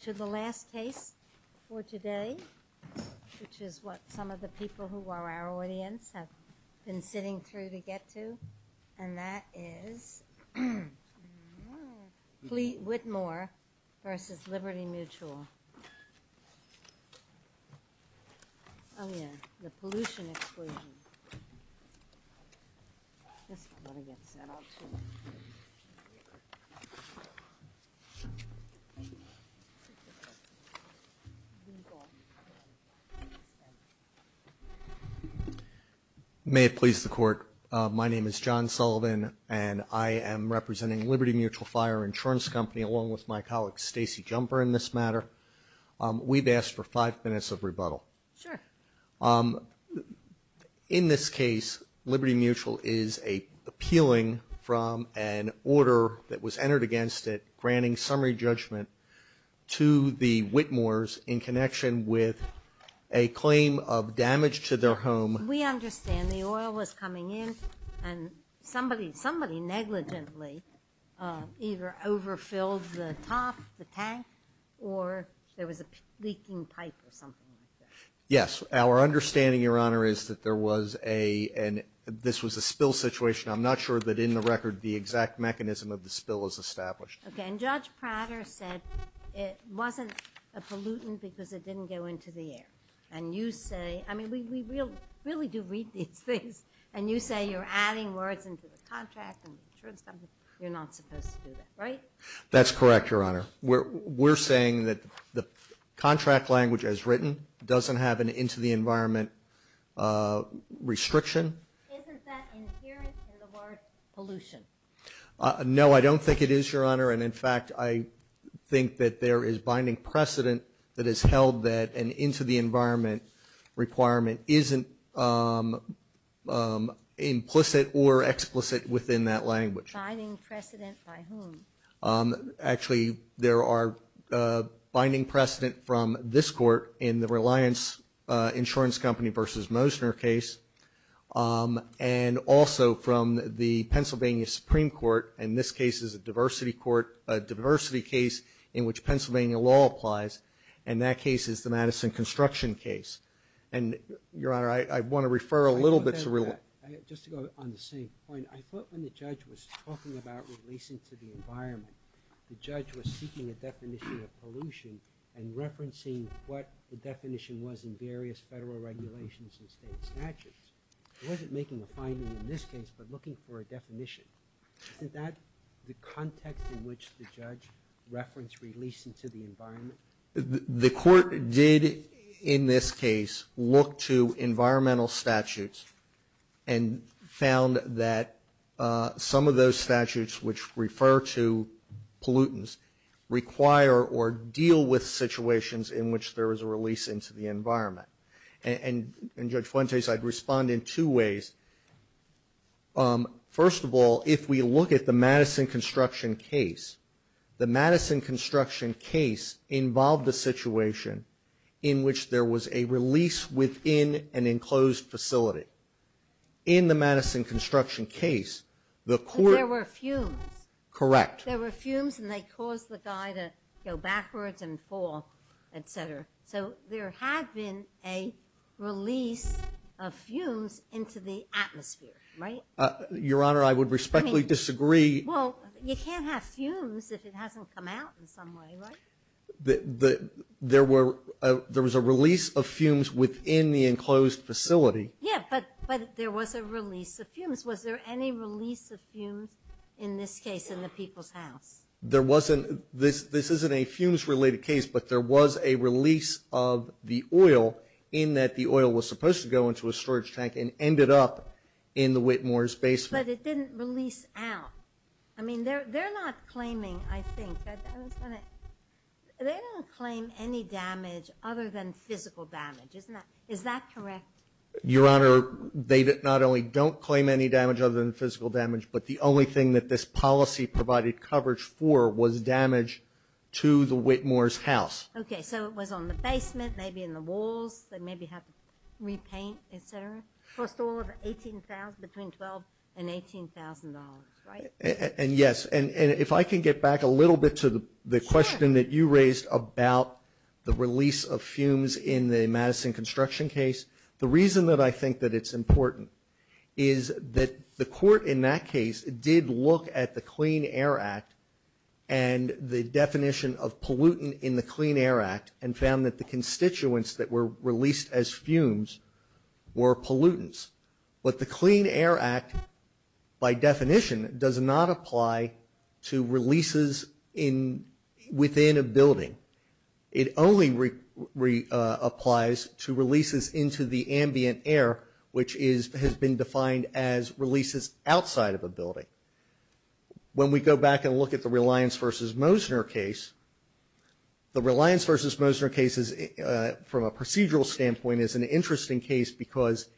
to the last case for today, which is what some of the people who are our audience have been sitting through to get to, and that is Whitmore v. Liberty Mutual. May it please the court, my name is John Sullivan, and I am representing Liberty Mutual Fire Insurance Company, along with my colleague Stacey Jumper in this matter. We've asked for five minutes of rebuttal. Sure. In this case, Liberty Mutual is appealing from an order that was entered against it, granting summary judgment to the Whitmores in connection with a claim of damage to their home. We understand the oil was coming in and somebody, somebody negligently either overfilled the top, the tank, or there was a leaking pipe or something like that. Yes. Our understanding, Your Honor, is that there was a, and this was a spill situation. I'm not sure that in the record the exact mechanism of the spill is established. Okay. And Judge Prater said it wasn't a pollutant because it didn't go into the air. And you say, I mean, we really do read these things, and you say you're adding words into the contract and the insurance company, you're not supposed to do that, right? That's correct, Your Honor. We're, we're saying that the contract language as written doesn't have an into the environment restriction. Isn't that inherent in the word pollution? No, I don't think it is, Your Honor. And in fact, I think that there is binding precedent that is held that an into the environment requirement isn't implicit or explicit within that language. Binding precedent by whom? Actually, there are binding precedent from this court in the Reliance Insurance Company versus Mosner case. And also from the Pennsylvania Supreme Court, and this case is a diversity court, a diversity case in which Pennsylvania law applies. And that case is the Madison Construction case. And, Your Honor, I want to refer a little bit to real life. Just to go on the same point, I thought when the judge was talking about releasing to the environment, the judge was seeking a definition of pollution and referencing what the definition was in various federal regulations and state statutes. He wasn't making a finding in this case, but looking for a definition. Isn't that the context in which the judge referenced release into the environment? The court did, in this case, look to environmental statutes and found that some of those statutes which refer to pollutants require or deal with situations in which there is a release into the environment. And Judge Fuentes, I'd respond in two ways. First of all, if we look at the Madison Construction case, the Madison Construction case involved a situation in which there was a release within an enclosed facility. In the Madison Construction case, the court- But there were fumes. Correct. There were fumes and they caused the guy to go backwards and fall, etc. So there had been a release of fumes into the atmosphere, right? Your Honor, I would respectfully disagree. Well, you can't have fumes if it hasn't come out in some way, right? There was a release of fumes within the enclosed facility. Yeah, but there was a release of fumes. Was there any release of fumes in this case in the people's house? There wasn't. This isn't a fumes-related case, but there was a release of the oil in that the oil was supposed to go into a storage tank and ended up in the Whitmore's basement. But it didn't release out. I mean, they're not claiming, I think, they don't claim any damage other than physical damage, is that correct? Your Honor, they not only don't claim any damage other than physical damage, but the only thing that this policy provided coverage for was damage to the Whitmore's house. Okay, so it was on the basement, maybe in the walls, they maybe had to repaint, etc. Cost all of $18,000, between $12,000 and $18,000, right? And yes, and if I can get back a little bit to the question that you raised about the release of fumes in the Madison Construction case, the reason that I think that it's important is that the court in that case did look at the Clean Air Act and the definition of pollutant in the Clean Air Act and found that the constituents that were released as fumes were pollutants. But the Clean Air Act, by definition, does not apply to releases within a building. It only applies to releases into the ambient air, which has been defined as releases outside of a building. When we go back and look at the Reliance v. Mosner case, the Reliance v. Mosner case, from a procedural standpoint, is an interesting case because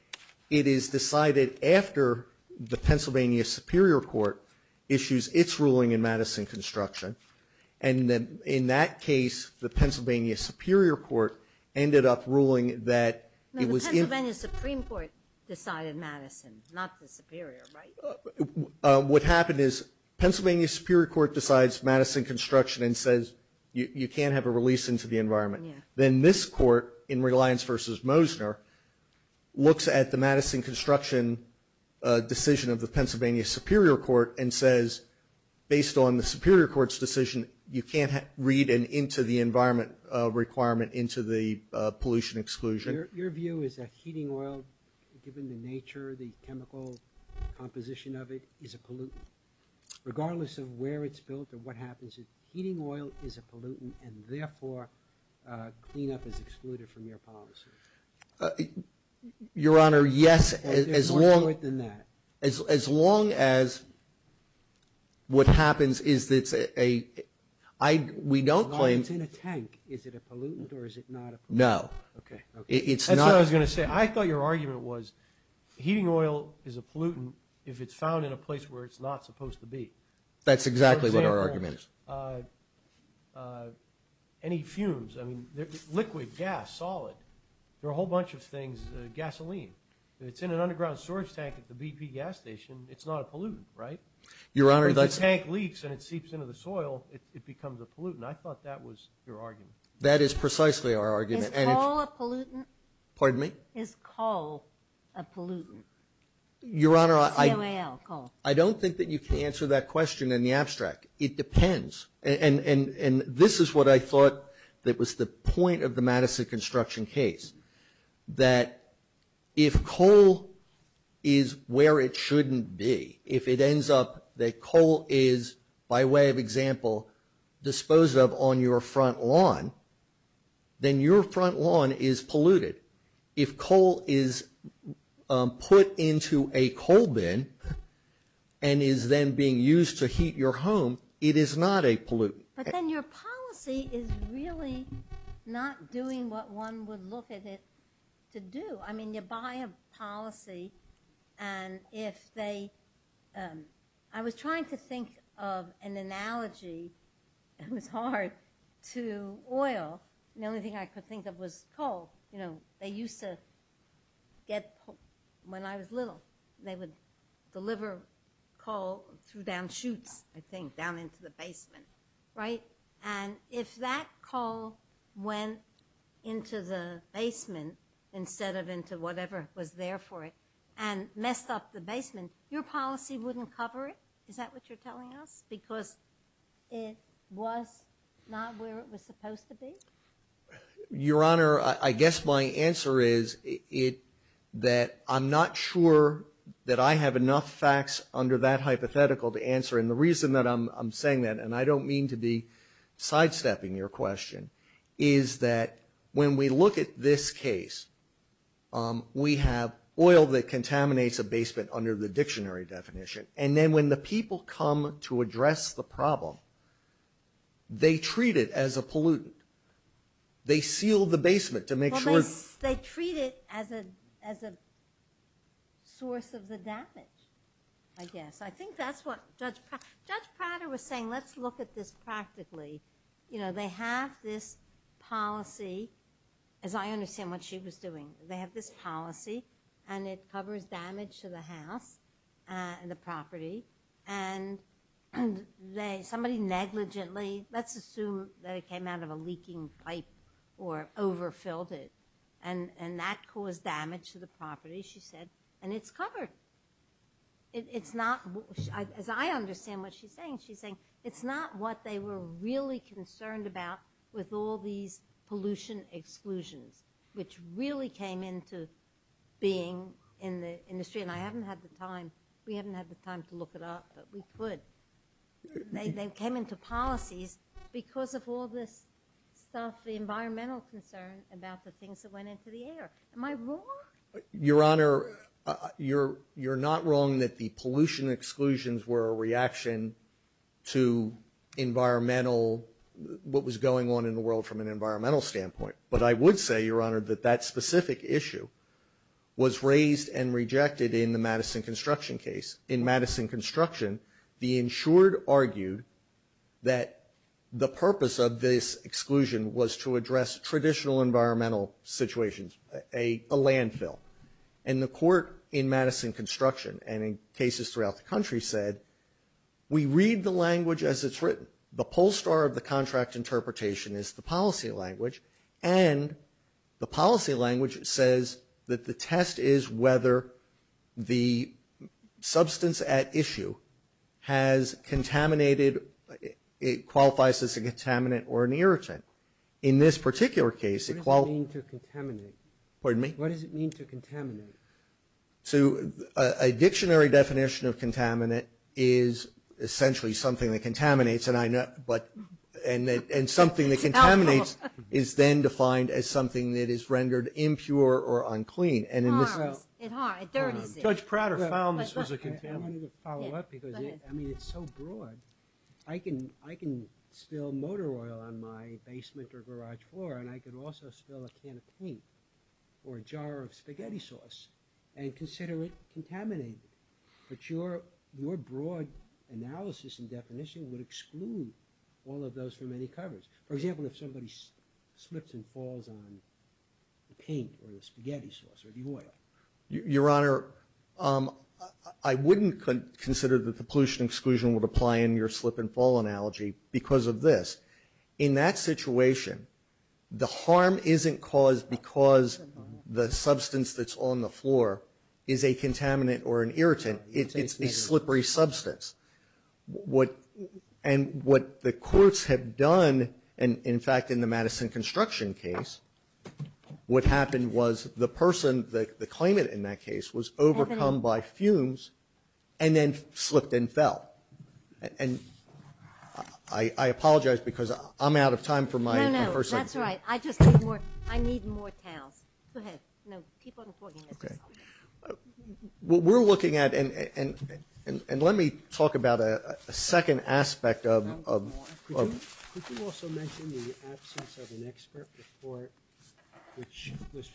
it is decided after the Pennsylvania Superior Court issues its ruling in Madison Construction. And in that case, the Pennsylvania Superior Court ended up ruling that it was in- No, the Pennsylvania Supreme Court decided Madison, not the Superior, right? What happened is, Pennsylvania Superior Court decides Madison Construction and says, you can't have a release into the environment. Then this court, in Reliance v. Mosner, looks at the Madison Construction decision of the Pennsylvania Superior Court and says, based on the Superior Court's decision, you can't read an into the environment requirement into the pollution exclusion. Your view is that heating oil, given the nature, the chemical composition of it, is a pollutant. Regardless of where it's built or what happens, heating oil is a pollutant and therefore, cleanup is excluded from your policy. Your Honor, yes, as long- There's more to it than that. As long as what happens is that it's a, I, we don't claim- As long as it's in a tank, is it a pollutant or is it not a pollutant? No, it's not- That's what I was going to say. I thought your argument was, heating oil is a pollutant if it's found in a place where it's not supposed to be. That's exactly what our argument is. For example, any fumes, I mean, liquid, gas, solid, there are a whole bunch of things, gasoline. If it's in an underground storage tank at the BP gas station, it's not a pollutant, right? Your Honor, that's- If the tank leaks and it seeps into the soil, it becomes a pollutant. I thought that was your argument. That is precisely our argument, and it's- Is coal a pollutant? Pardon me? Is coal a pollutant? Your Honor, I- C-O-A-L, coal. I don't think that you can answer that question in the abstract. It depends, and this is what I thought that was the point of the Madison construction case. That if coal is where it shouldn't be, if it ends up that coal is, by way of example, disposed of on your front lawn, then your front lawn is polluted. If coal is put into a coal bin and is then being used to heat your home, it is not a pollutant. But then your policy is really not doing what one would look at it to do. I mean, you buy a policy, and if they- I was trying to think of an analogy. It was hard to oil. The only thing I could think of was coal. You know, they used to get- When I was little, they would deliver coal through down chutes, I think, down into the basement. Right? And if that coal went into the basement instead of into whatever was there for it and messed up the basement, your policy wouldn't cover it? Is that what you're telling us? Because it was not where it was supposed to be? Your Honor, I guess my answer is that I'm not sure that I have enough facts under that hypothetical to answer. And the reason that I'm saying that, and I don't mean to be sidestepping your question, is that when we look at this case, we have oil that contaminates a basement under the dictionary definition. And then when the people come to address the problem, they treat it as a pollutant. They seal the basement to make sure- Well, they treat it as a source of the damage, I guess. I think that's what Judge Prater was saying. Let's look at this practically. You know, they have this policy, as I understand what she was doing. They have this policy, and it covers damage to the house and the property. And somebody negligently- Let's assume that it came out of a leaking pipe or overfilled it, and that caused damage to the property, she said. And it's covered. It's not- As I understand what she's saying, she's saying it's not what they were really concerned about with all these pollution exclusions, which really came into being in the industry. And I haven't had the time- We haven't had the time to look it up, but we could. They came into policies because of all this stuff, the environmental concern about the things that went into the air. Am I wrong? Your Honor, you're not wrong that the pollution exclusions were a reaction to environmental- What was going on in the world from an environmental standpoint. But I would say, Your Honor, that that specific issue was raised and rejected in the Madison Construction case. In Madison Construction, the insured argued that the purpose of this exclusion was to address traditional environmental situations. A landfill. And the court in Madison Construction, and in cases throughout the country, said, we read the language as it's written. The poll star of the contract interpretation is the policy language. And the policy language says that the test is whether the substance at issue has contaminated, it qualifies as a contaminant or an irritant. In this particular case, it qualifies- What does it mean to contaminate? Pardon me? What does it mean to contaminate? So a dictionary definition of contaminant is essentially something that contaminates, and I know, but, and something that contaminates is then defined as something that is rendered impure or unclean. And in this- It harms, it dirties it. Judge Prater found this was a contaminant. I wanted to follow up because, I mean, it's so broad. I can, I can spill motor oil on my basement or garage floor, and I could also spill a can of paint. Or a jar of spaghetti sauce, and consider it contaminated. But your, your broad analysis and definition would exclude all of those from any coverage. For example, if somebody slips and falls on the paint or the spaghetti sauce or the oil. Your Honor, I wouldn't consider that the pollution exclusion would apply in your slip and fall analogy because of this. In that situation, the harm isn't caused because the substance that's on the floor is a contaminant or an irritant. It's a slippery substance. What, and what the courts have done, and in fact, in the Madison construction case, what happened was the person, the claimant in that case, was overcome by fumes and then slipped and fell. And I, I apologize because I'm out of time for my first. That's all right. I just need more, I need more towns. Go ahead. No, keep on talking. What we're looking at, and, and, and, and let me talk about a second aspect of, of, of. Could you also mention the absence of an expert report, which was,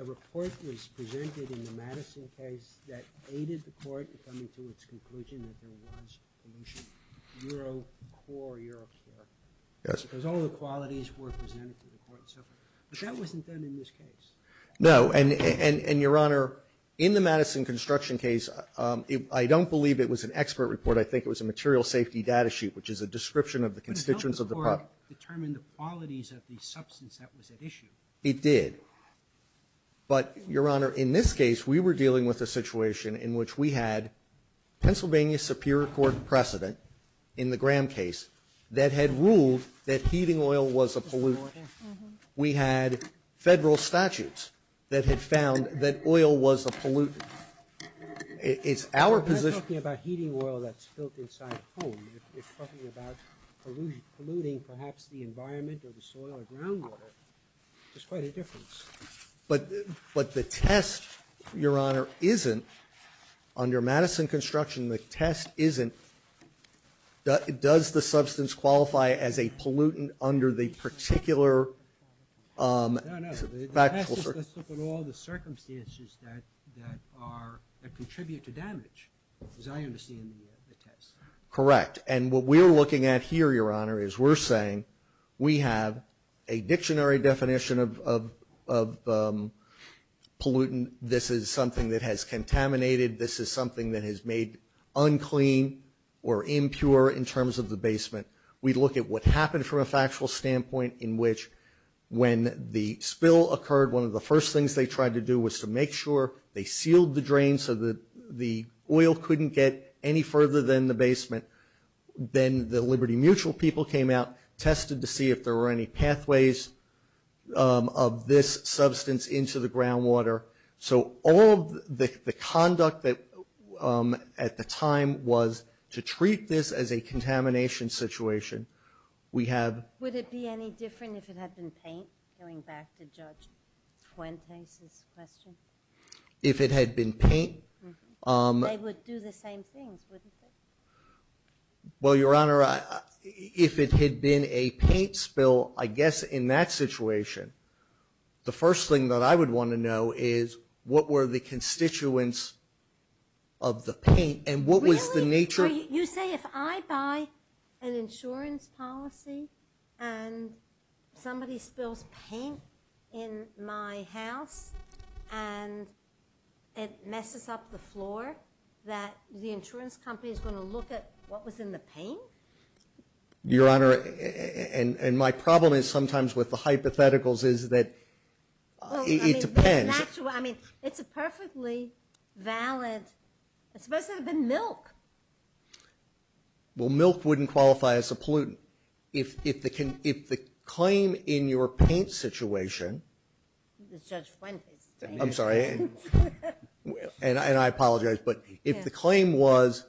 a report was presented in the Madison case that aided the court in coming to its conclusion that there was pollution, Euro core, Euro care, because all the qualities were presented to the court and so forth, but that wasn't done in this case. No, and, and, and, Your Honor, in the Madison construction case, I don't believe it was an expert report. I think it was a material safety data sheet, which is a description of the constituents of the property. It helped the court determine the qualities of the substance that was at issue. It did. But Your Honor, in this case, we were dealing with a situation in which we had Pennsylvania Superior Court precedent in the Graham case that had ruled that heating oil was a pollutant. We had federal statutes that had found that oil was a pollutant. It's our position. If you're talking about heating oil that's built inside a home, if you're talking about polluting, perhaps the environment or the soil or ground water, there's quite a difference. But, but the test, Your Honor, isn't, under Madison construction, the test isn't, does the substance qualify as a pollutant under the particular, um, factual circumstances? Let's look at all the circumstances that, that are, that contribute to damage, as I understand the test. Correct. And what we're looking at here, Your Honor, is we're saying we have a dictionary definition of, of, of, um, pollutant. This is something that has contaminated. This is something that has made unclean or impure in terms of the basement. We look at what happened from a factual standpoint in which when the spill occurred, one of the first things they tried to do was to make sure they sealed the drain so that the oil couldn't get any further than the basement. Then the Liberty Mutual people came out, tested to see if there were any pathways, um, of this substance into the groundwater. So all of the, the conduct that, um, at the time was to treat this as a contamination situation. We have. Would it be any different if it had been paint? Going back to Judge Fuentes' question. If it had been paint, um. They would do the same things, wouldn't they? Well, Your Honor, if it had been a paint spill, I guess in that situation, the first thing that I would want to know is what were the constituents of the paint and what was the nature. You say if I buy an insurance policy and somebody spills paint in my house and it messes up the floor, that the insurance company is going to look at what was in the paint? Your Honor, and my problem is sometimes with the hypotheticals is that it depends. I mean, it's a perfectly valid, it's supposed to have been milk. Well, milk wouldn't qualify as a pollutant. If, if the, if the claim in your paint situation. Judge Fuentes. I'm sorry. And I, and I apologize, but if the claim was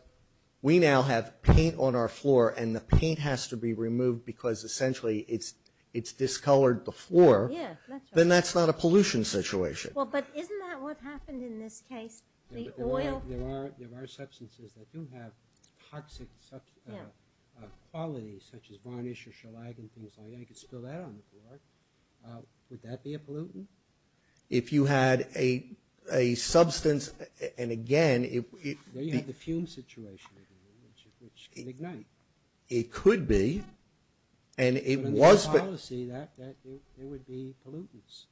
we now have paint on our floor and the paint has to be removed because essentially it's, it's discolored the floor. Yeah, that's right. Then that's not a pollution situation. Well, but isn't that what happened in this case? The oil. There are, there are substances that do have toxic qualities such as varnish or shellac and things like that. You could spill that on the floor. Would that be a pollutant? If you had a, a substance, and again, if, if. Well, you have the fume situation, which can ignite. It could be. And it was. The policy that, that it would be pollutants.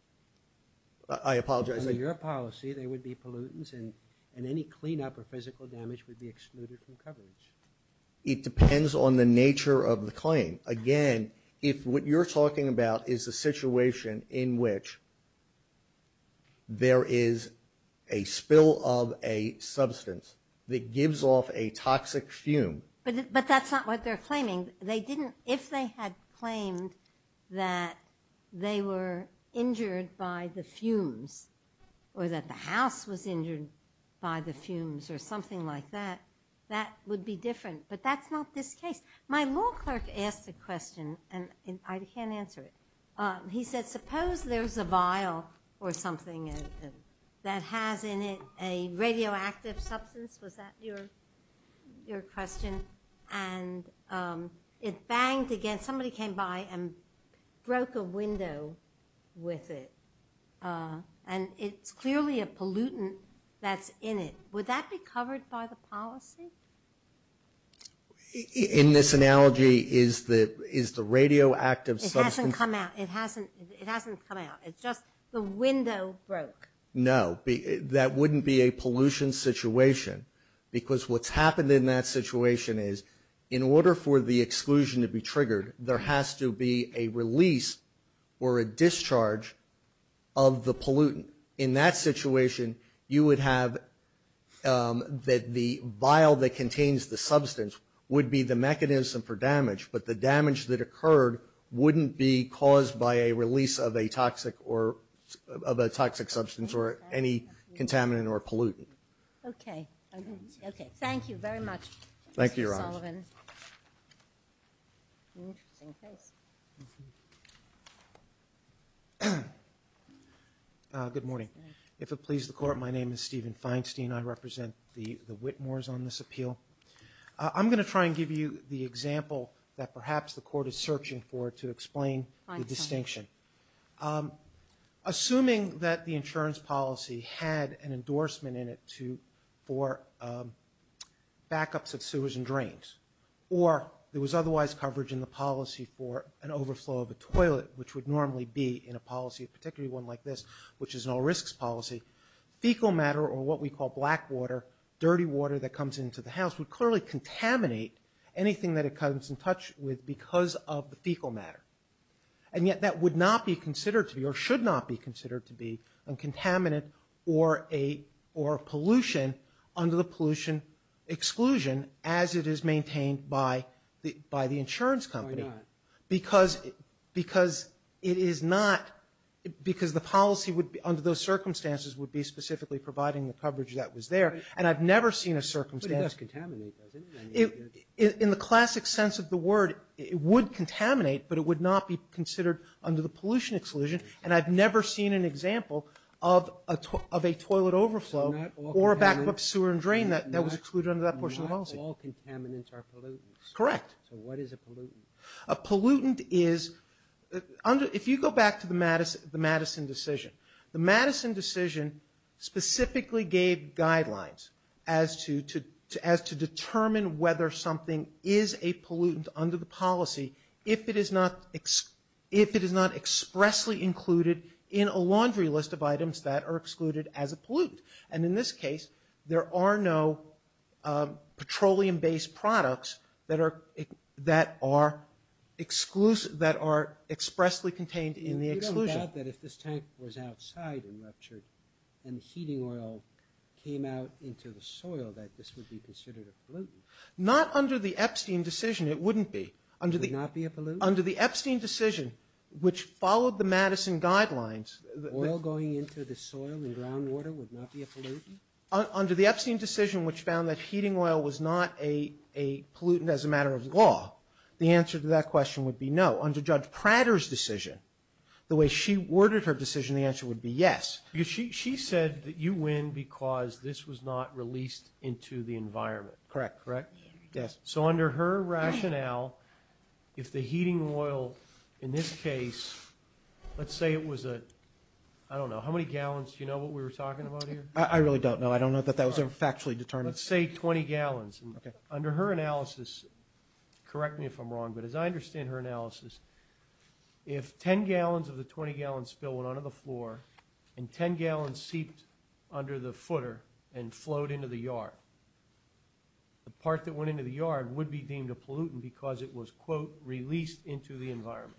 I apologize. Under your policy, they would be pollutants and, and any cleanup or physical damage would be excluded from coverage. It depends on the nature of the claim. Again, if what you're talking about is a situation in which there is a spill of a substance that gives off a toxic fume. They didn't, if they had claimed that they were injured by the fumes or that the house was injured by the fumes or something like that, that would be different. But that's not this case. My law clerk asked a question and I can't answer it. He said, suppose there's a vial or something that has in it a radioactive substance. Was that your, your question? And it banged against, somebody came by and broke a window with it. And it's clearly a pollutant that's in it. Would that be covered by the policy? In this analogy, is the, is the radioactive substance. It hasn't come out. It hasn't, it hasn't come out. It's just the window broke. No. That wouldn't be a pollution situation. Because what's happened in that situation is in order for the exclusion to be triggered, there has to be a release or a discharge of the pollutant. In that situation, you would have that the vial that contains the substance would be the mechanism for damage. But the damage that occurred wouldn't be caused by a release of a toxic or, of a toxic substance or any contaminant or pollutant. Okay. Okay. Thank you very much. Thank you, Your Honor. Good morning. If it pleases the court, my name is Stephen Feinstein. I represent the, the Whitmores on this appeal. I'm going to try and give you the example that perhaps the court is searching for to explain the distinction. Assuming that the insurance policy had an endorsement in it to, for backups of sewers and drains. Or there was otherwise coverage in the policy for an overflow of a toilet, which would normally be in a policy, particularly one like this, which is an all risks policy. Fecal matter, or what we call black water, dirty water that comes into the house, would clearly contaminate anything that it comes in touch with because of the fecal matter. And yet that would not be considered to be, or should not be considered to be, a contaminant or a, or a pollution under the pollution exclusion as it is maintained by the, by the insurance company. Why not? Because, because it is not, because the policy would be, under those circumstances, would be specifically providing the coverage that was there. And I've never seen a circumstance. But it does contaminate, doesn't it? In the classic sense of the word, it would contaminate, but it would not be considered under the pollution exclusion. And I've never seen an example of a, of a toilet overflow or a backup sewer and drain that, that was excluded under that portion of the policy. Not all contaminants are pollutants. Correct. So what is a pollutant? A pollutant is, under, if you go back to the Madison, the Madison decision, the Madison decision specifically gave guidelines as to, to, to, as to determine whether something is a pollutant under the policy if it is not, if it is not expressly included in a laundry list of items that are excluded as a pollutant. And in this case, there are no petroleum-based products that are, that are exclusive, that are expressly contained in the exclusion. You don't doubt that if this tank was outside and ruptured and heating oil came out into the soil, that this would be considered a pollutant. Not under the Epstein decision, it wouldn't be. Under the. It would not be a pollutant? Under the Epstein decision, which followed the Madison guidelines. Oil going into the soil and groundwater would not be a pollutant? Under the Epstein decision, which found that heating oil was not a, a pollutant as a matter of law, the answer to that question would be no. Under Judge Prater's decision, the way she worded her decision, the answer would be yes. Because she, she said that you win because this was not released into the environment. Correct. Correct? Yes. So under her rationale, if the heating oil in this case, let's say it was a, I don't know, how many gallons, do you know what we were talking about here? I really don't know. I don't know that that was ever factually determined. Let's say 20 gallons. Okay. Under her analysis, correct me if I'm wrong, but as I understand her analysis, if 10 gallons of the 20 gallon spill went onto the floor and 10 gallons seeped under the footer and flowed into the yard, the part that went into the yard would be deemed a pollutant because it was, quote, released into the environment.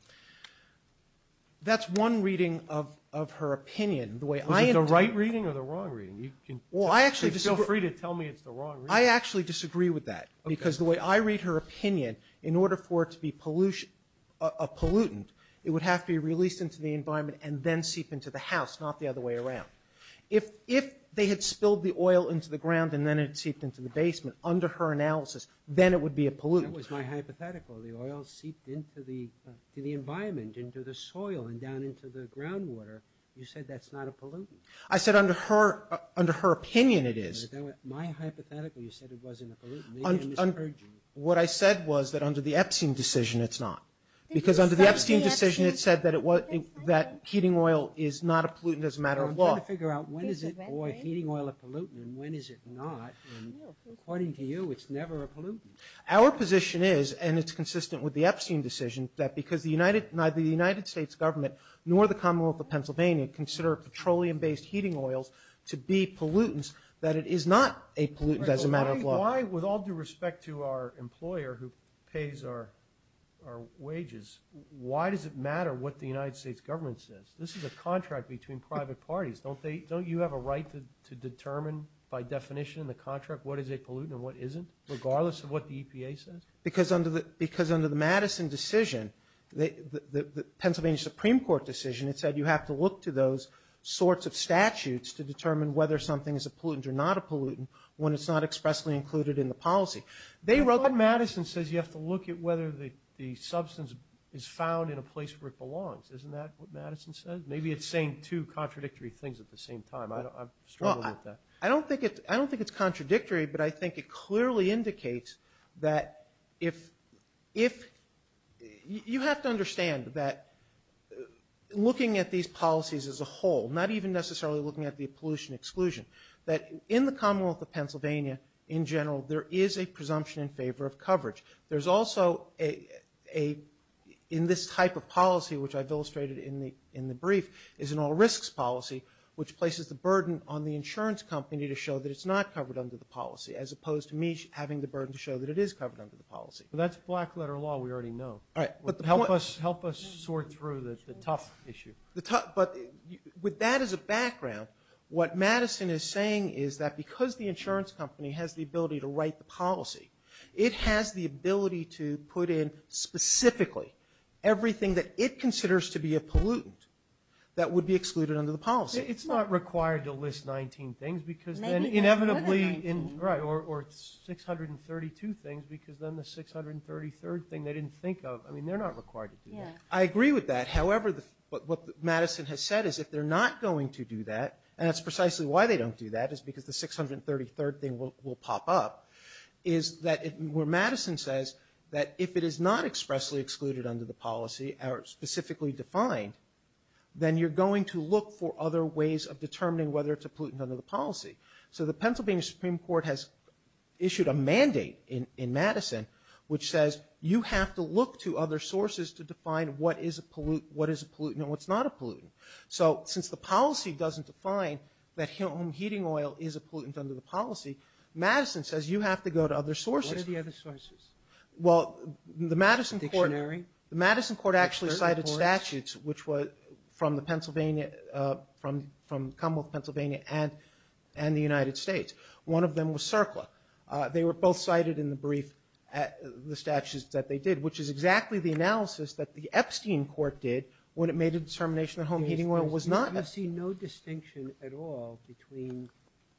That's one reading of, of her opinion. The way I interpret it. Is it the right reading or the wrong reading? You can feel free to tell me it's the wrong reading. I actually disagree with that because the way I read her opinion, in order for it to be pollution, a pollutant, it would have to be released into the environment and then seep into the house, not the other way around. If, if they had spilled the oil into the ground and then it seeped into the basement, under her analysis, then it would be a pollutant. That was my hypothetical. The oil seeped into the, to the environment, into the soil and down into the groundwater. You said that's not a pollutant. I said under her, under her opinion, it is. My hypothetical, you said it wasn't a pollutant, maybe I misheard you. What I said was that under the Epstein decision, it's not because under the Epstein decision, it said that it was, that heating oil is not a pollutant as a matter of law. Figure out when is it, boy, heating oil a pollutant and when is it not, and according to you, it's never a pollutant. Our position is, and it's consistent with the Epstein decision, that because the United, neither the United States government nor the Commonwealth of Pennsylvania consider petroleum-based heating oils to be pollutants, that it is not a pollutant as a matter of law. Why, with all due respect to our employer who pays our, our wages, why does it matter what the United States government says? This is a contract between private parties. Don't they, don't you have a right to, to determine by definition in the contract what is a pollutant and what isn't, regardless of what the EPA says? Because under the, because under the Madison decision, the, the, the Pennsylvania Supreme Court decision, it said you have to look to those sorts of statutes to determine whether something is a pollutant or not a pollutant when it's not expressly included in the policy. They wrote, Madison says you have to look at whether the, the substance is found in a place where it belongs. Isn't that what Madison says? Maybe it's saying two contradictory things at the same time. I don't, I'm struggling with that. I don't think it's, I don't think it's contradictory, but I think it clearly indicates that if, if, you have to understand that looking at these policies as a whole, not even necessarily looking at the pollution exclusion, that in the Commonwealth of Pennsylvania in general, there is a presumption in favor of coverage. There's also a, a, in this type of policy, which I've illustrated in the, in the brief, is an all risks policy, which places the burden on the insurance company to show that it's not covered under the policy, as opposed to me having the burden to show that it is covered under the policy. Well, that's black letter law, we already know. All right. But the point, help us, help us sort through the, the tough issue. The tough, but with that as a background, what Madison is saying is that because the insurance company has the ability to write the policy, it has the ability to put in specifically everything that it considers to be a pollutant that would be excluded under the policy. It's not required to list 19 things because then inevitably in, right, or, or 632 things, because then the 633rd thing they didn't think of, I mean, they're not required to do that. I agree with that. However, the, what Madison has said is if they're not going to do that, and that's precisely why they don't do that, is because the 633rd thing will, will pop up. Is that, where Madison says that if it is not expressly excluded under the policy, or specifically defined, then you're going to look for other ways of determining whether it's a pollutant under the policy. So the Pennsylvania Supreme Court has issued a mandate in, in Madison, which says you have to look to other sources to define what is a pollutant, what is a pollutant, and what's not a pollutant. So since the policy doesn't define that heating oil is a pollutant under the policy, Madison says you have to go to other sources. What are the other sources? Well, the Madison court, the Madison court actually cited statutes which were from the Pennsylvania, from, from Commonwealth Pennsylvania and, and the United States. One of them was CERCLA. They were both cited in the brief at, the statutes that they did, which is exactly the analysis that the Epstein court did when it made a determination that home heating oil was not. I see no distinction at all between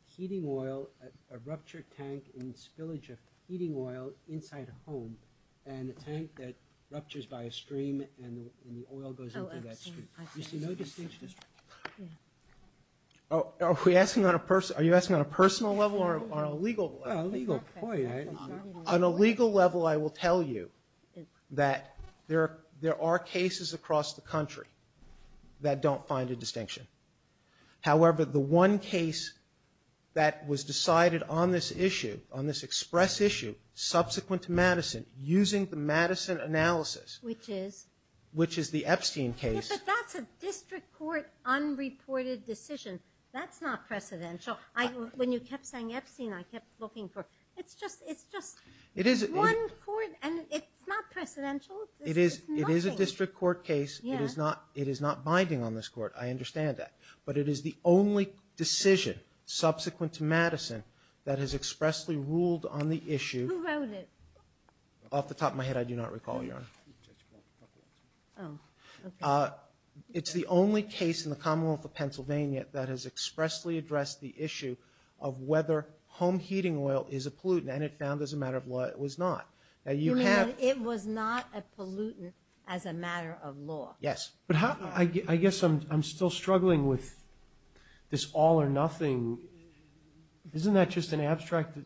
heating oil, a ruptured tank, and spillage of heating oil inside a home, and a tank that ruptures by a stream, and the oil goes into that stream. Oh, Epstein, I see. You see no distinction at all. Oh, are we asking on a person, are you asking on a personal level or on a legal level? On a legal point. On a legal level, I will tell you that there are, there are cases across the country that don't find a distinction. However, the one case that was decided on this issue, on this express issue, subsequent to Madison, using the Madison analysis. Which is? Which is the Epstein case. But that's a district court unreported decision. That's not precedential. I, when you kept saying Epstein, I kept looking for, it's just, it's just one court, and it's not precedential. It is, it is a district court case. It is not, it is not binding on this court. I understand that. But it is the only decision subsequent to Madison that has expressly ruled on the issue. Who wrote it? Off the top of my head, I do not recall, Your Honor. Oh, okay. It's the only case in the Commonwealth of Pennsylvania that has expressly addressed the issue of whether home heating oil is a pollutant. And it found, as a matter of law, it was not. Now, you have. It was not a pollutant as a matter of law. Yes. But how, I guess I'm still struggling with this all or nothing. Isn't that just an abstract,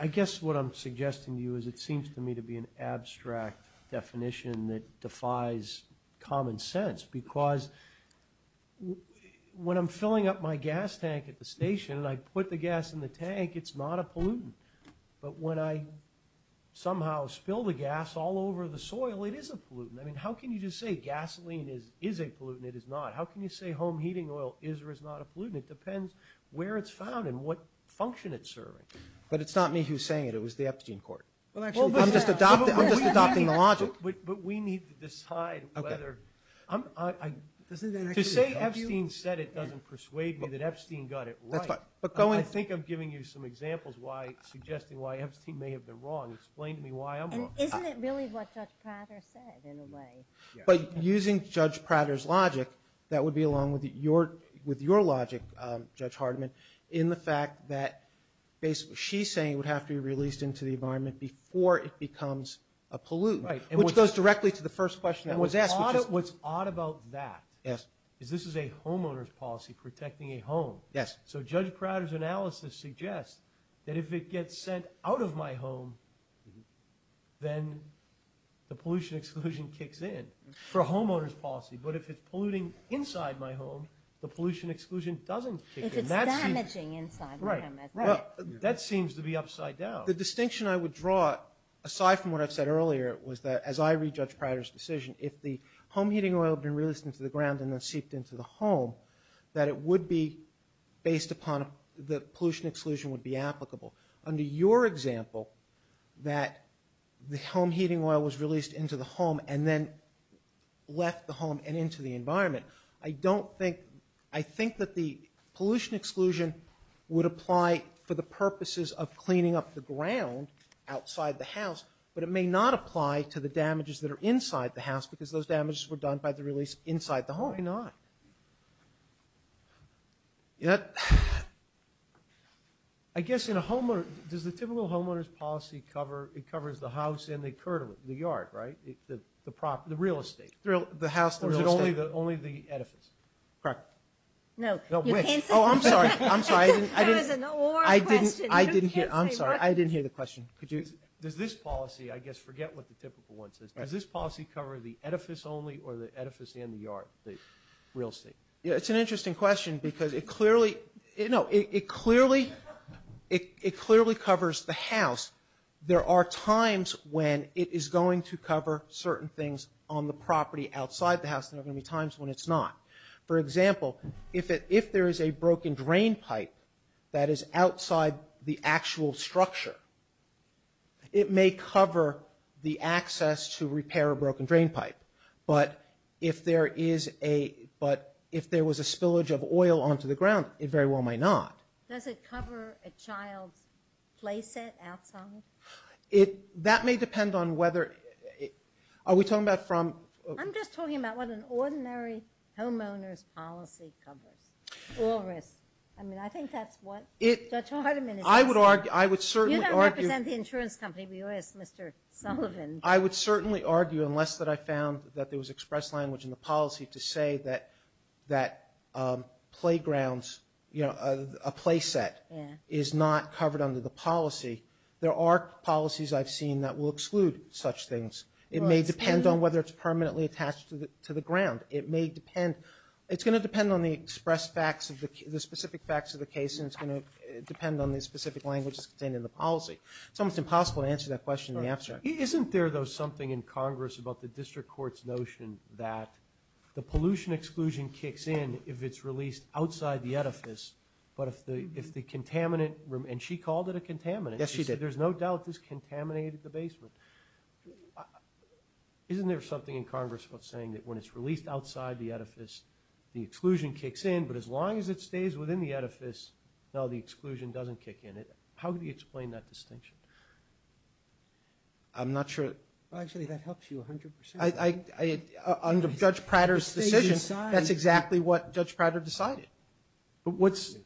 I guess what I'm suggesting to you is it seems to me to be an abstract definition that defies common sense because when I'm filling up my gas tank at the station and I put the gas in the tank, it's not a pollutant. But when I somehow spill the gas all over the soil, it is a pollutant. I mean, how can you just say gasoline is a pollutant? It is not. How can you say home heating oil is or is not a pollutant? It depends where it's found and what function it's serving. But it's not me who's saying it. It was the Epstein court. Well, actually, I'm just adopting the logic. But we need to decide whether, to say Epstein said it doesn't persuade me that Epstein got it right. But going, I think I'm giving you some examples why, suggesting why Epstein may have been wrong. Explain to me why I'm wrong. Isn't it really what Judge Prater said in a way? But using Judge Prater's logic, that would be along with your logic, Judge Hardman, in the fact that basically she's saying it would have to be released into the environment before it becomes a pollutant. Which goes directly to the first question that was asked, which is- What's odd about that is this is a homeowner's policy protecting a home. So Judge Prater's analysis suggests that if it gets sent out of my home, then the pollution exclusion kicks in for a homeowner's policy. But if it's polluting inside my home, the pollution exclusion doesn't kick in. If it's damaging inside my home, that's right. That seems to be upside down. The distinction I would draw, aside from what I've said earlier, was that, as I read Judge Prater's decision, if the home heating oil had been released into the ground and then seeped into the home, that it would be based upon- the pollution exclusion would be applicable. Under your example, that the home heating oil was released into the home and then left the home and into the environment, I don't think- I think that the pollution exclusion would apply for the purposes of cleaning up the ground outside the house, but it may not apply to the damages that are inside the house because those damages were done by the release inside the home. Why not? I guess in a homeowner- does the typical homeowner's policy cover- it covers the house and the yard, right? The property- the real estate. The house, the real estate. Only the edifice. Correct. No, you can't say that. Oh, I'm sorry, I'm sorry, I didn't hear- I'm sorry, I didn't hear the question. Does this policy- I guess forget what the typical one says- does this policy cover the edifice only or the edifice and the yard, the real estate? Yeah, it's an interesting question because it clearly- no, it clearly- it clearly covers the house. There are times when it is going to cover certain things on the property outside the house. There are going to be times when it's not. For example, if it- if there is a broken drain pipe that is outside the actual structure, it may cover the access to repair a broken drain pipe, but if there is a- but if there was a spillage of oil onto the ground, it very well might not. Does it cover a child's play set outside? It- that may depend on whether- are we talking about from- I'm just talking about what an ordinary homeowner's policy covers. Oil risk. I mean, I think that's what Judge Hardiman is- I would argue- I would certainly argue- You don't represent the insurance company, but you are Mr. Sullivan. I would certainly argue, unless that I found that there was express language in the policy to say that- that playgrounds, you know, a play set is not covered under the policy. There are policies I've seen that will exclude such things. It may depend on whether it's permanently attached to the ground. It may depend- it's going to depend on the express facts of the- the specific facts of the case, and it's going to depend on the specific languages contained in the policy. It's almost impossible to answer that question in the abstract. Isn't there, though, something in Congress about the district court's notion that the pollution exclusion kicks in if it's released outside the edifice, but if the- if the contaminant- and she called it a contaminant. Yes, she did. There's no doubt this contaminated the basement. Isn't there something in Congress about saying that when it's released outside the edifice, the exclusion kicks in, but as long as it stays within the edifice, no, the exclusion doesn't kick in? How do you explain that distinction? I'm not sure- Well, actually, that helps you a hundred percent. I- I- under Judge Prater's decision, that's exactly what Judge Prater decided. But what's-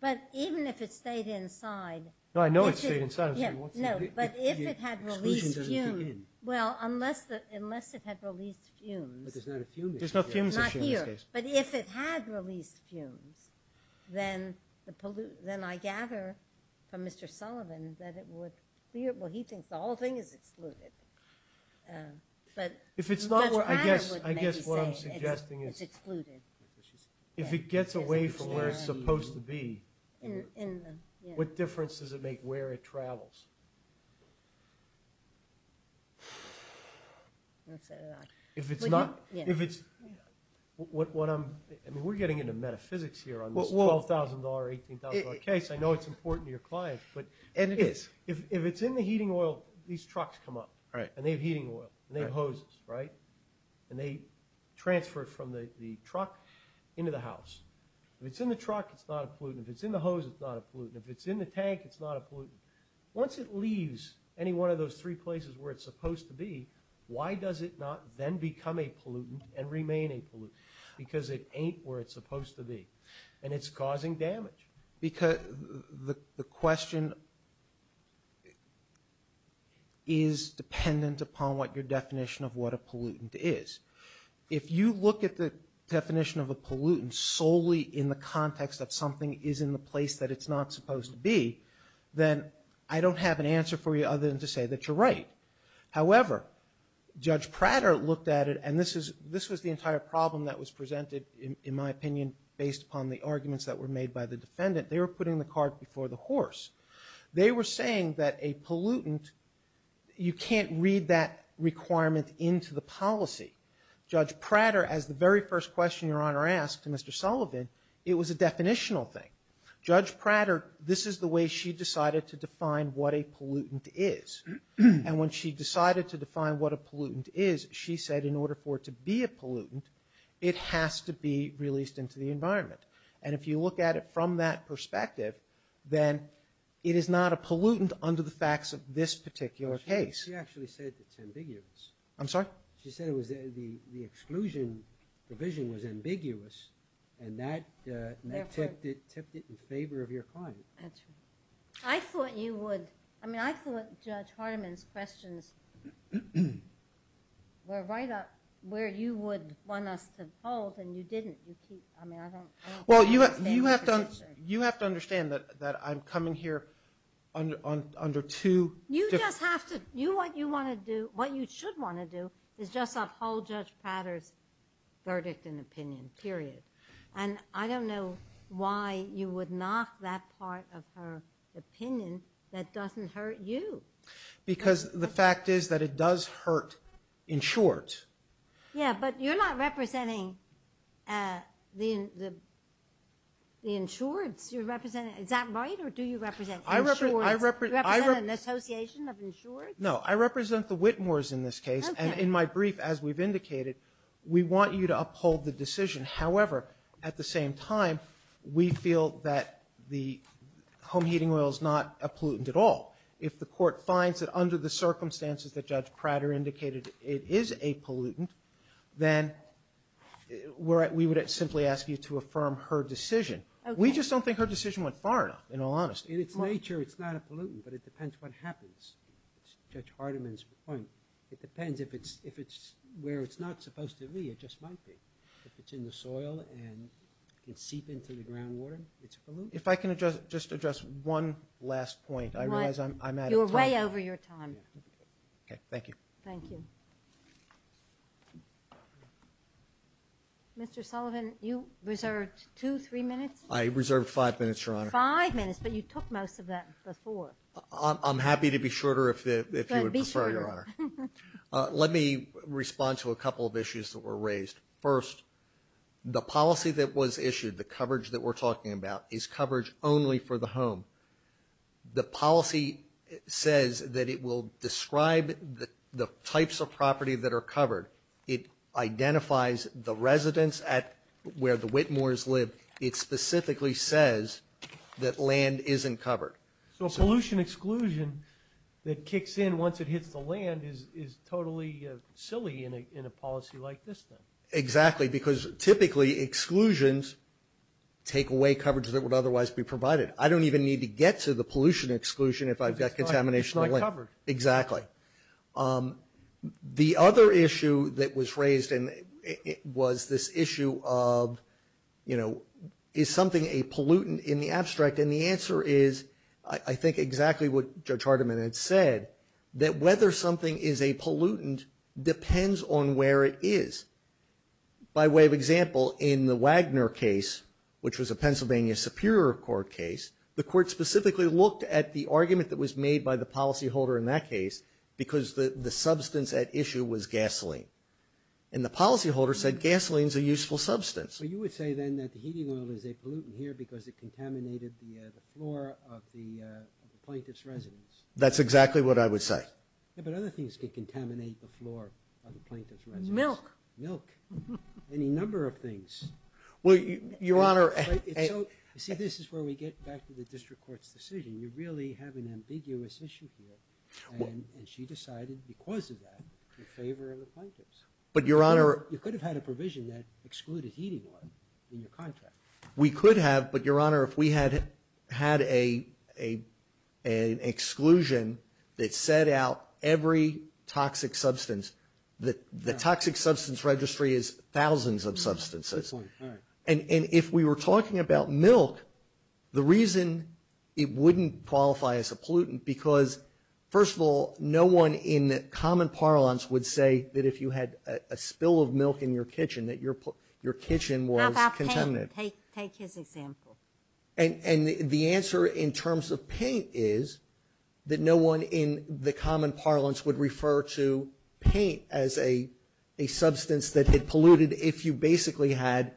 But even if it stayed inside- No, I know it stayed inside. Yeah, no, but if it had released fumes- Well, unless the- unless it had released fumes- But there's not a fumes issue. There's no fumes issue in this case. But if it had released fumes, then the pollute- then I gather from Mr. Sullivan that it would be- well, he thinks the whole thing is excluded. But Judge Prater would maybe say it's excluded. If it gets away from where it's supposed to be, what difference does it make where it travels? I'm not saying that. If it's not- Yeah. If it's- what I'm- I mean, we're getting into metaphysics here on this $12,000, $18,000 case. I know it's important to your client, but- And it is. If it's in the heating oil, these trucks come up, and they have heating oil, and they have hoses, right? And they transfer it from the truck into the house. If it's in the truck, it's not a pollutant. If it's in the hose, it's not a pollutant. Once it's in the tank, it's not a pollutant. Once it leaves any one of those three places where it's supposed to be, why does it not then become a pollutant and remain a pollutant? Because it ain't where it's supposed to be. And it's causing damage. Because the question is dependent upon what your definition of what a pollutant is. If you look at the definition of a pollutant solely in the context that something is in the place that it's not supposed to be, then I don't have an answer for you other than to say that you're right. However, Judge Prater looked at it, and this was the entire problem that was presented, in my opinion, based upon the arguments that were made by the defendant. They were putting the cart before the horse. They were saying that a pollutant, you can't read that requirement into the policy. Judge Prater, as the very first question your Honor asked to Mr. Sullivan, it was a definitional thing. Judge Prater, this is the way she decided to define what a pollutant is. And when she decided to define what a pollutant is, she said in order for it to be a pollutant, it has to be released into the environment. And if you look at it from that perspective, then it is not a pollutant under the facts of this particular case. She actually said it's ambiguous. I'm sorry? She said the exclusion provision was ambiguous, and that tipped it in favor of your client. That's right. I thought you would – I mean, I thought Judge Hardiman's questions were right up where you would want us to hold, and you didn't. You keep – I mean, I don't – Well, you have to understand that I'm coming here under two different – You just have to – you want to do – what you should want to do is just uphold Judge Prater's verdict and opinion, period. And I don't know why you would knock that part of her opinion that doesn't hurt you. Because the fact is that it does hurt insureds. Yeah, but you're not representing the insureds you're representing. Is that right, or do you represent insureds? Do you represent an association of insureds? No, I represent the Whitmores in this case. Okay. And in my brief, as we've indicated, we want you to uphold the decision. However, at the same time, we feel that the home heating oil is not a pollutant at all. If the Court finds that under the circumstances that Judge Prater indicated it is a pollutant, then we would simply ask you to affirm her decision. Okay. We just don't think her decision went far enough, in all honesty. In its nature, it's not a pollutant, but it depends what happens. It's Judge Hardiman's point. It depends if it's where it's not supposed to be. It just might be. If it's in the soil and can seep into the groundwater, it's a pollutant. If I can just address one last point. I realize I'm out of time. You're way over your time. Okay. Thank you. Mr. Sullivan, you reserved two, three minutes? I reserved five minutes, Your Honor. Five minutes, but you took most of that before. I'm happy to be shorter if you would prefer, Your Honor. Let me respond to a couple of issues that were raised. First, the policy that was issued, the coverage that we're talking about, is coverage only for the home. The policy says that it will describe the types of property that are covered. It identifies the residents at where the Whitmores live. It specifically says that land isn't covered. So a pollution exclusion that kicks in once it hits the land is totally silly in a policy like this, then? Exactly, because typically exclusions take away coverage that would otherwise be provided. I don't even need to get to the pollution exclusion if I've got contamination of land. It's not covered. Exactly. The other issue that was raised was this issue of, you know, is something a pollutant in the abstract? And the answer is, I think, exactly what Judge Hardiman had said, that whether something is a pollutant depends on where it is. By way of example, in the Wagner case, which was a Pennsylvania Superior Court case, the court specifically looked at the argument that was made by the policyholder in that case because the substance at issue was gasoline. And the policyholder said gasoline is a useful substance. Well, you would say then that the heating oil is a pollutant here because it contaminated the floor of the plaintiff's residence. That's exactly what I would say. Yeah, but other things could contaminate the floor of the plaintiff's residence. Milk. Milk. Any number of things. Well, Your Honor. You see, this is where we get back to the district court's decision. You really have an ambiguous issue here. And she decided, because of that, in favor of the plaintiffs. But, Your Honor. You could have had a provision that excluded heating oil in your contract. We could have, but, Your Honor, if we had had an exclusion that set out every toxic substance, the toxic substance registry is thousands of substances. And if we were talking about milk, the reason it wouldn't qualify as a pollutant, because, first of all, no one in common parlance would say that if you had a spill of milk in your kitchen, that your kitchen was contaminated. How about paint? Take his example. And the answer in terms of paint is that no one in the common parlance would refer to paint as a substance that had polluted if you basically had.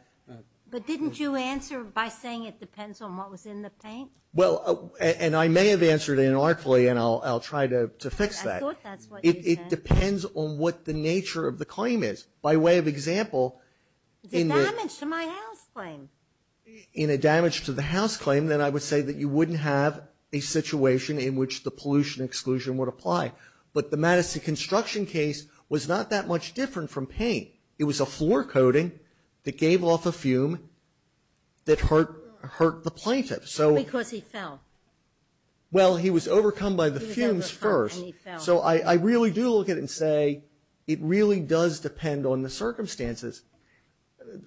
But didn't you answer by saying it depends on what was in the paint? Well, and I may have answered inartfully, and I'll try to fix that. I thought that's what you said. It depends on what the nature of the claim is. By way of example, in the. The damage to my house claim. In a damage to the house claim, then I would say that you wouldn't have a situation in which the pollution exclusion would apply. But the Madison construction case was not that much different from paint. It was a floor coating that gave off a fume that hurt the plaintiff. Because he fell. Well, he was overcome by the fumes first. He was overcome and he fell. So I really do look at it and say it really does depend on the circumstances.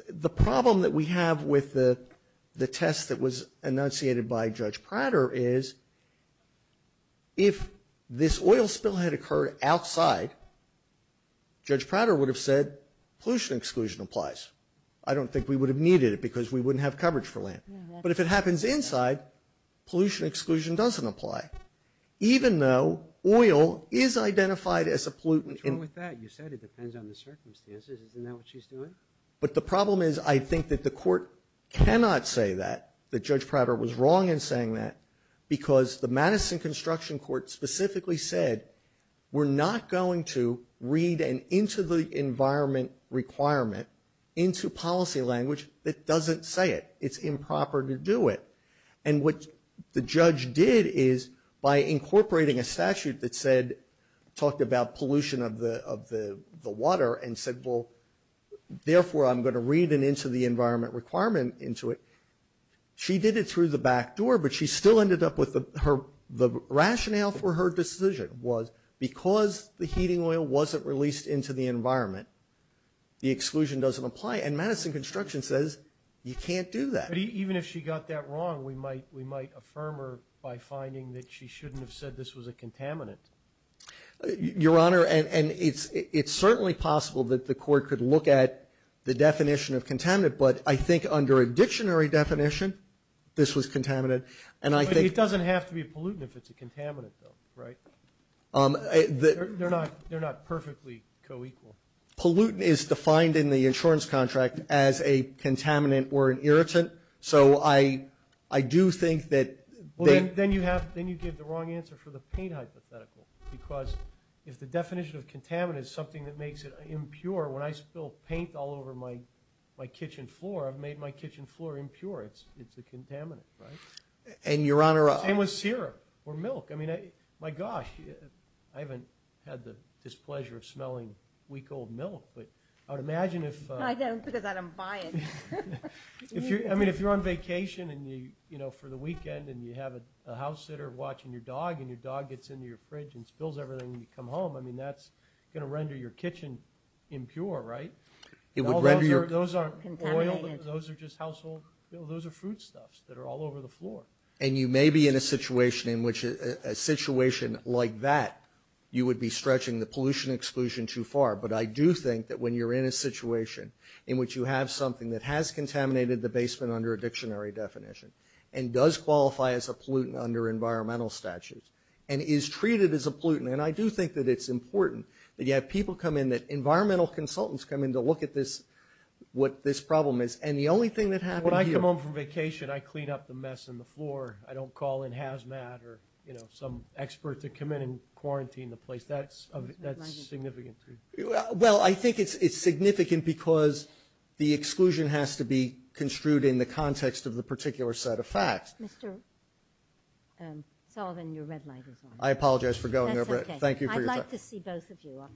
The problem that we have with the test that was enunciated by Judge Prater is if this oil spill had occurred outside, Judge Prater would have said pollution exclusion applies. I don't think we would have needed it because we wouldn't have coverage for land. But if it happens inside, pollution exclusion doesn't apply. Even though oil is identified as a pollutant. What's wrong with that? You said it depends on the circumstances. Isn't that what she's doing? But the problem is I think that the court cannot say that. That Judge Prater was wrong in saying that. Because the Madison construction court specifically said we're not going to read an into the environment requirement into policy language that doesn't say it. It's improper to do it. And what the judge did is by incorporating a statute that said, talked about pollution of the water and said, well, therefore I'm going to read an into the environment requirement into it. She did it through the back door, but she still ended up with the rationale for her decision was because the heating oil wasn't released into the environment, the exclusion doesn't apply. And Madison construction says you can't do that. But even if she got that wrong, we might affirm her by finding that she shouldn't have said this was a contaminant. Your Honor, and it's certainly possible that the court could look at the definition of contaminant, but I think under a dictionary definition, this was contaminant. But it doesn't have to be a pollutant if it's a contaminant though, right? They're not perfectly co-equal. Pollutant is defined in the insurance contract as a contaminant or an irritant. So I, I do think that then you have, then you get the wrong answer for the paint hypothetical, because if the definition of contaminant is something that makes it impure, when I spill paint all over my, my kitchen floor, I've made my kitchen floor impure. It's, it's a contaminant, right? And your Honor. Same with syrup or milk. I mean, my gosh, I haven't had the displeasure of smelling weak old milk, but I would imagine if. I don't because I don't buy it. I mean, if you're on vacation and you, you know, for the weekend and you have a house sitter watching your dog and your dog gets into your fridge and spills everything when you come home, I mean, that's going to render your kitchen impure, right? It would render your. Those aren't oil, those are just household, those are foodstuffs that are all over the floor. And you may be in a situation in which a situation like that, you would be stretching the pollution exclusion too far. But I do think that when you're in a situation in which you have something that has contaminated the basement under a dictionary definition and does qualify as a pollutant under environmental statutes and is treated as a pollutant. And I do think that it's important that you have people come in, that environmental consultants come in to look at this, what this problem is. When I come home from vacation, I clean up the mess on the floor. I don't call in hazmat or, you know, some expert to come in and quarantine the place. That's significant. Well, I think it's significant because the exclusion has to be construed in the context of the particular set of facts. Mr. Sullivan, your red light is on. I apologize for going over it. That's okay. Thank you for your time. I'd like to see both of you.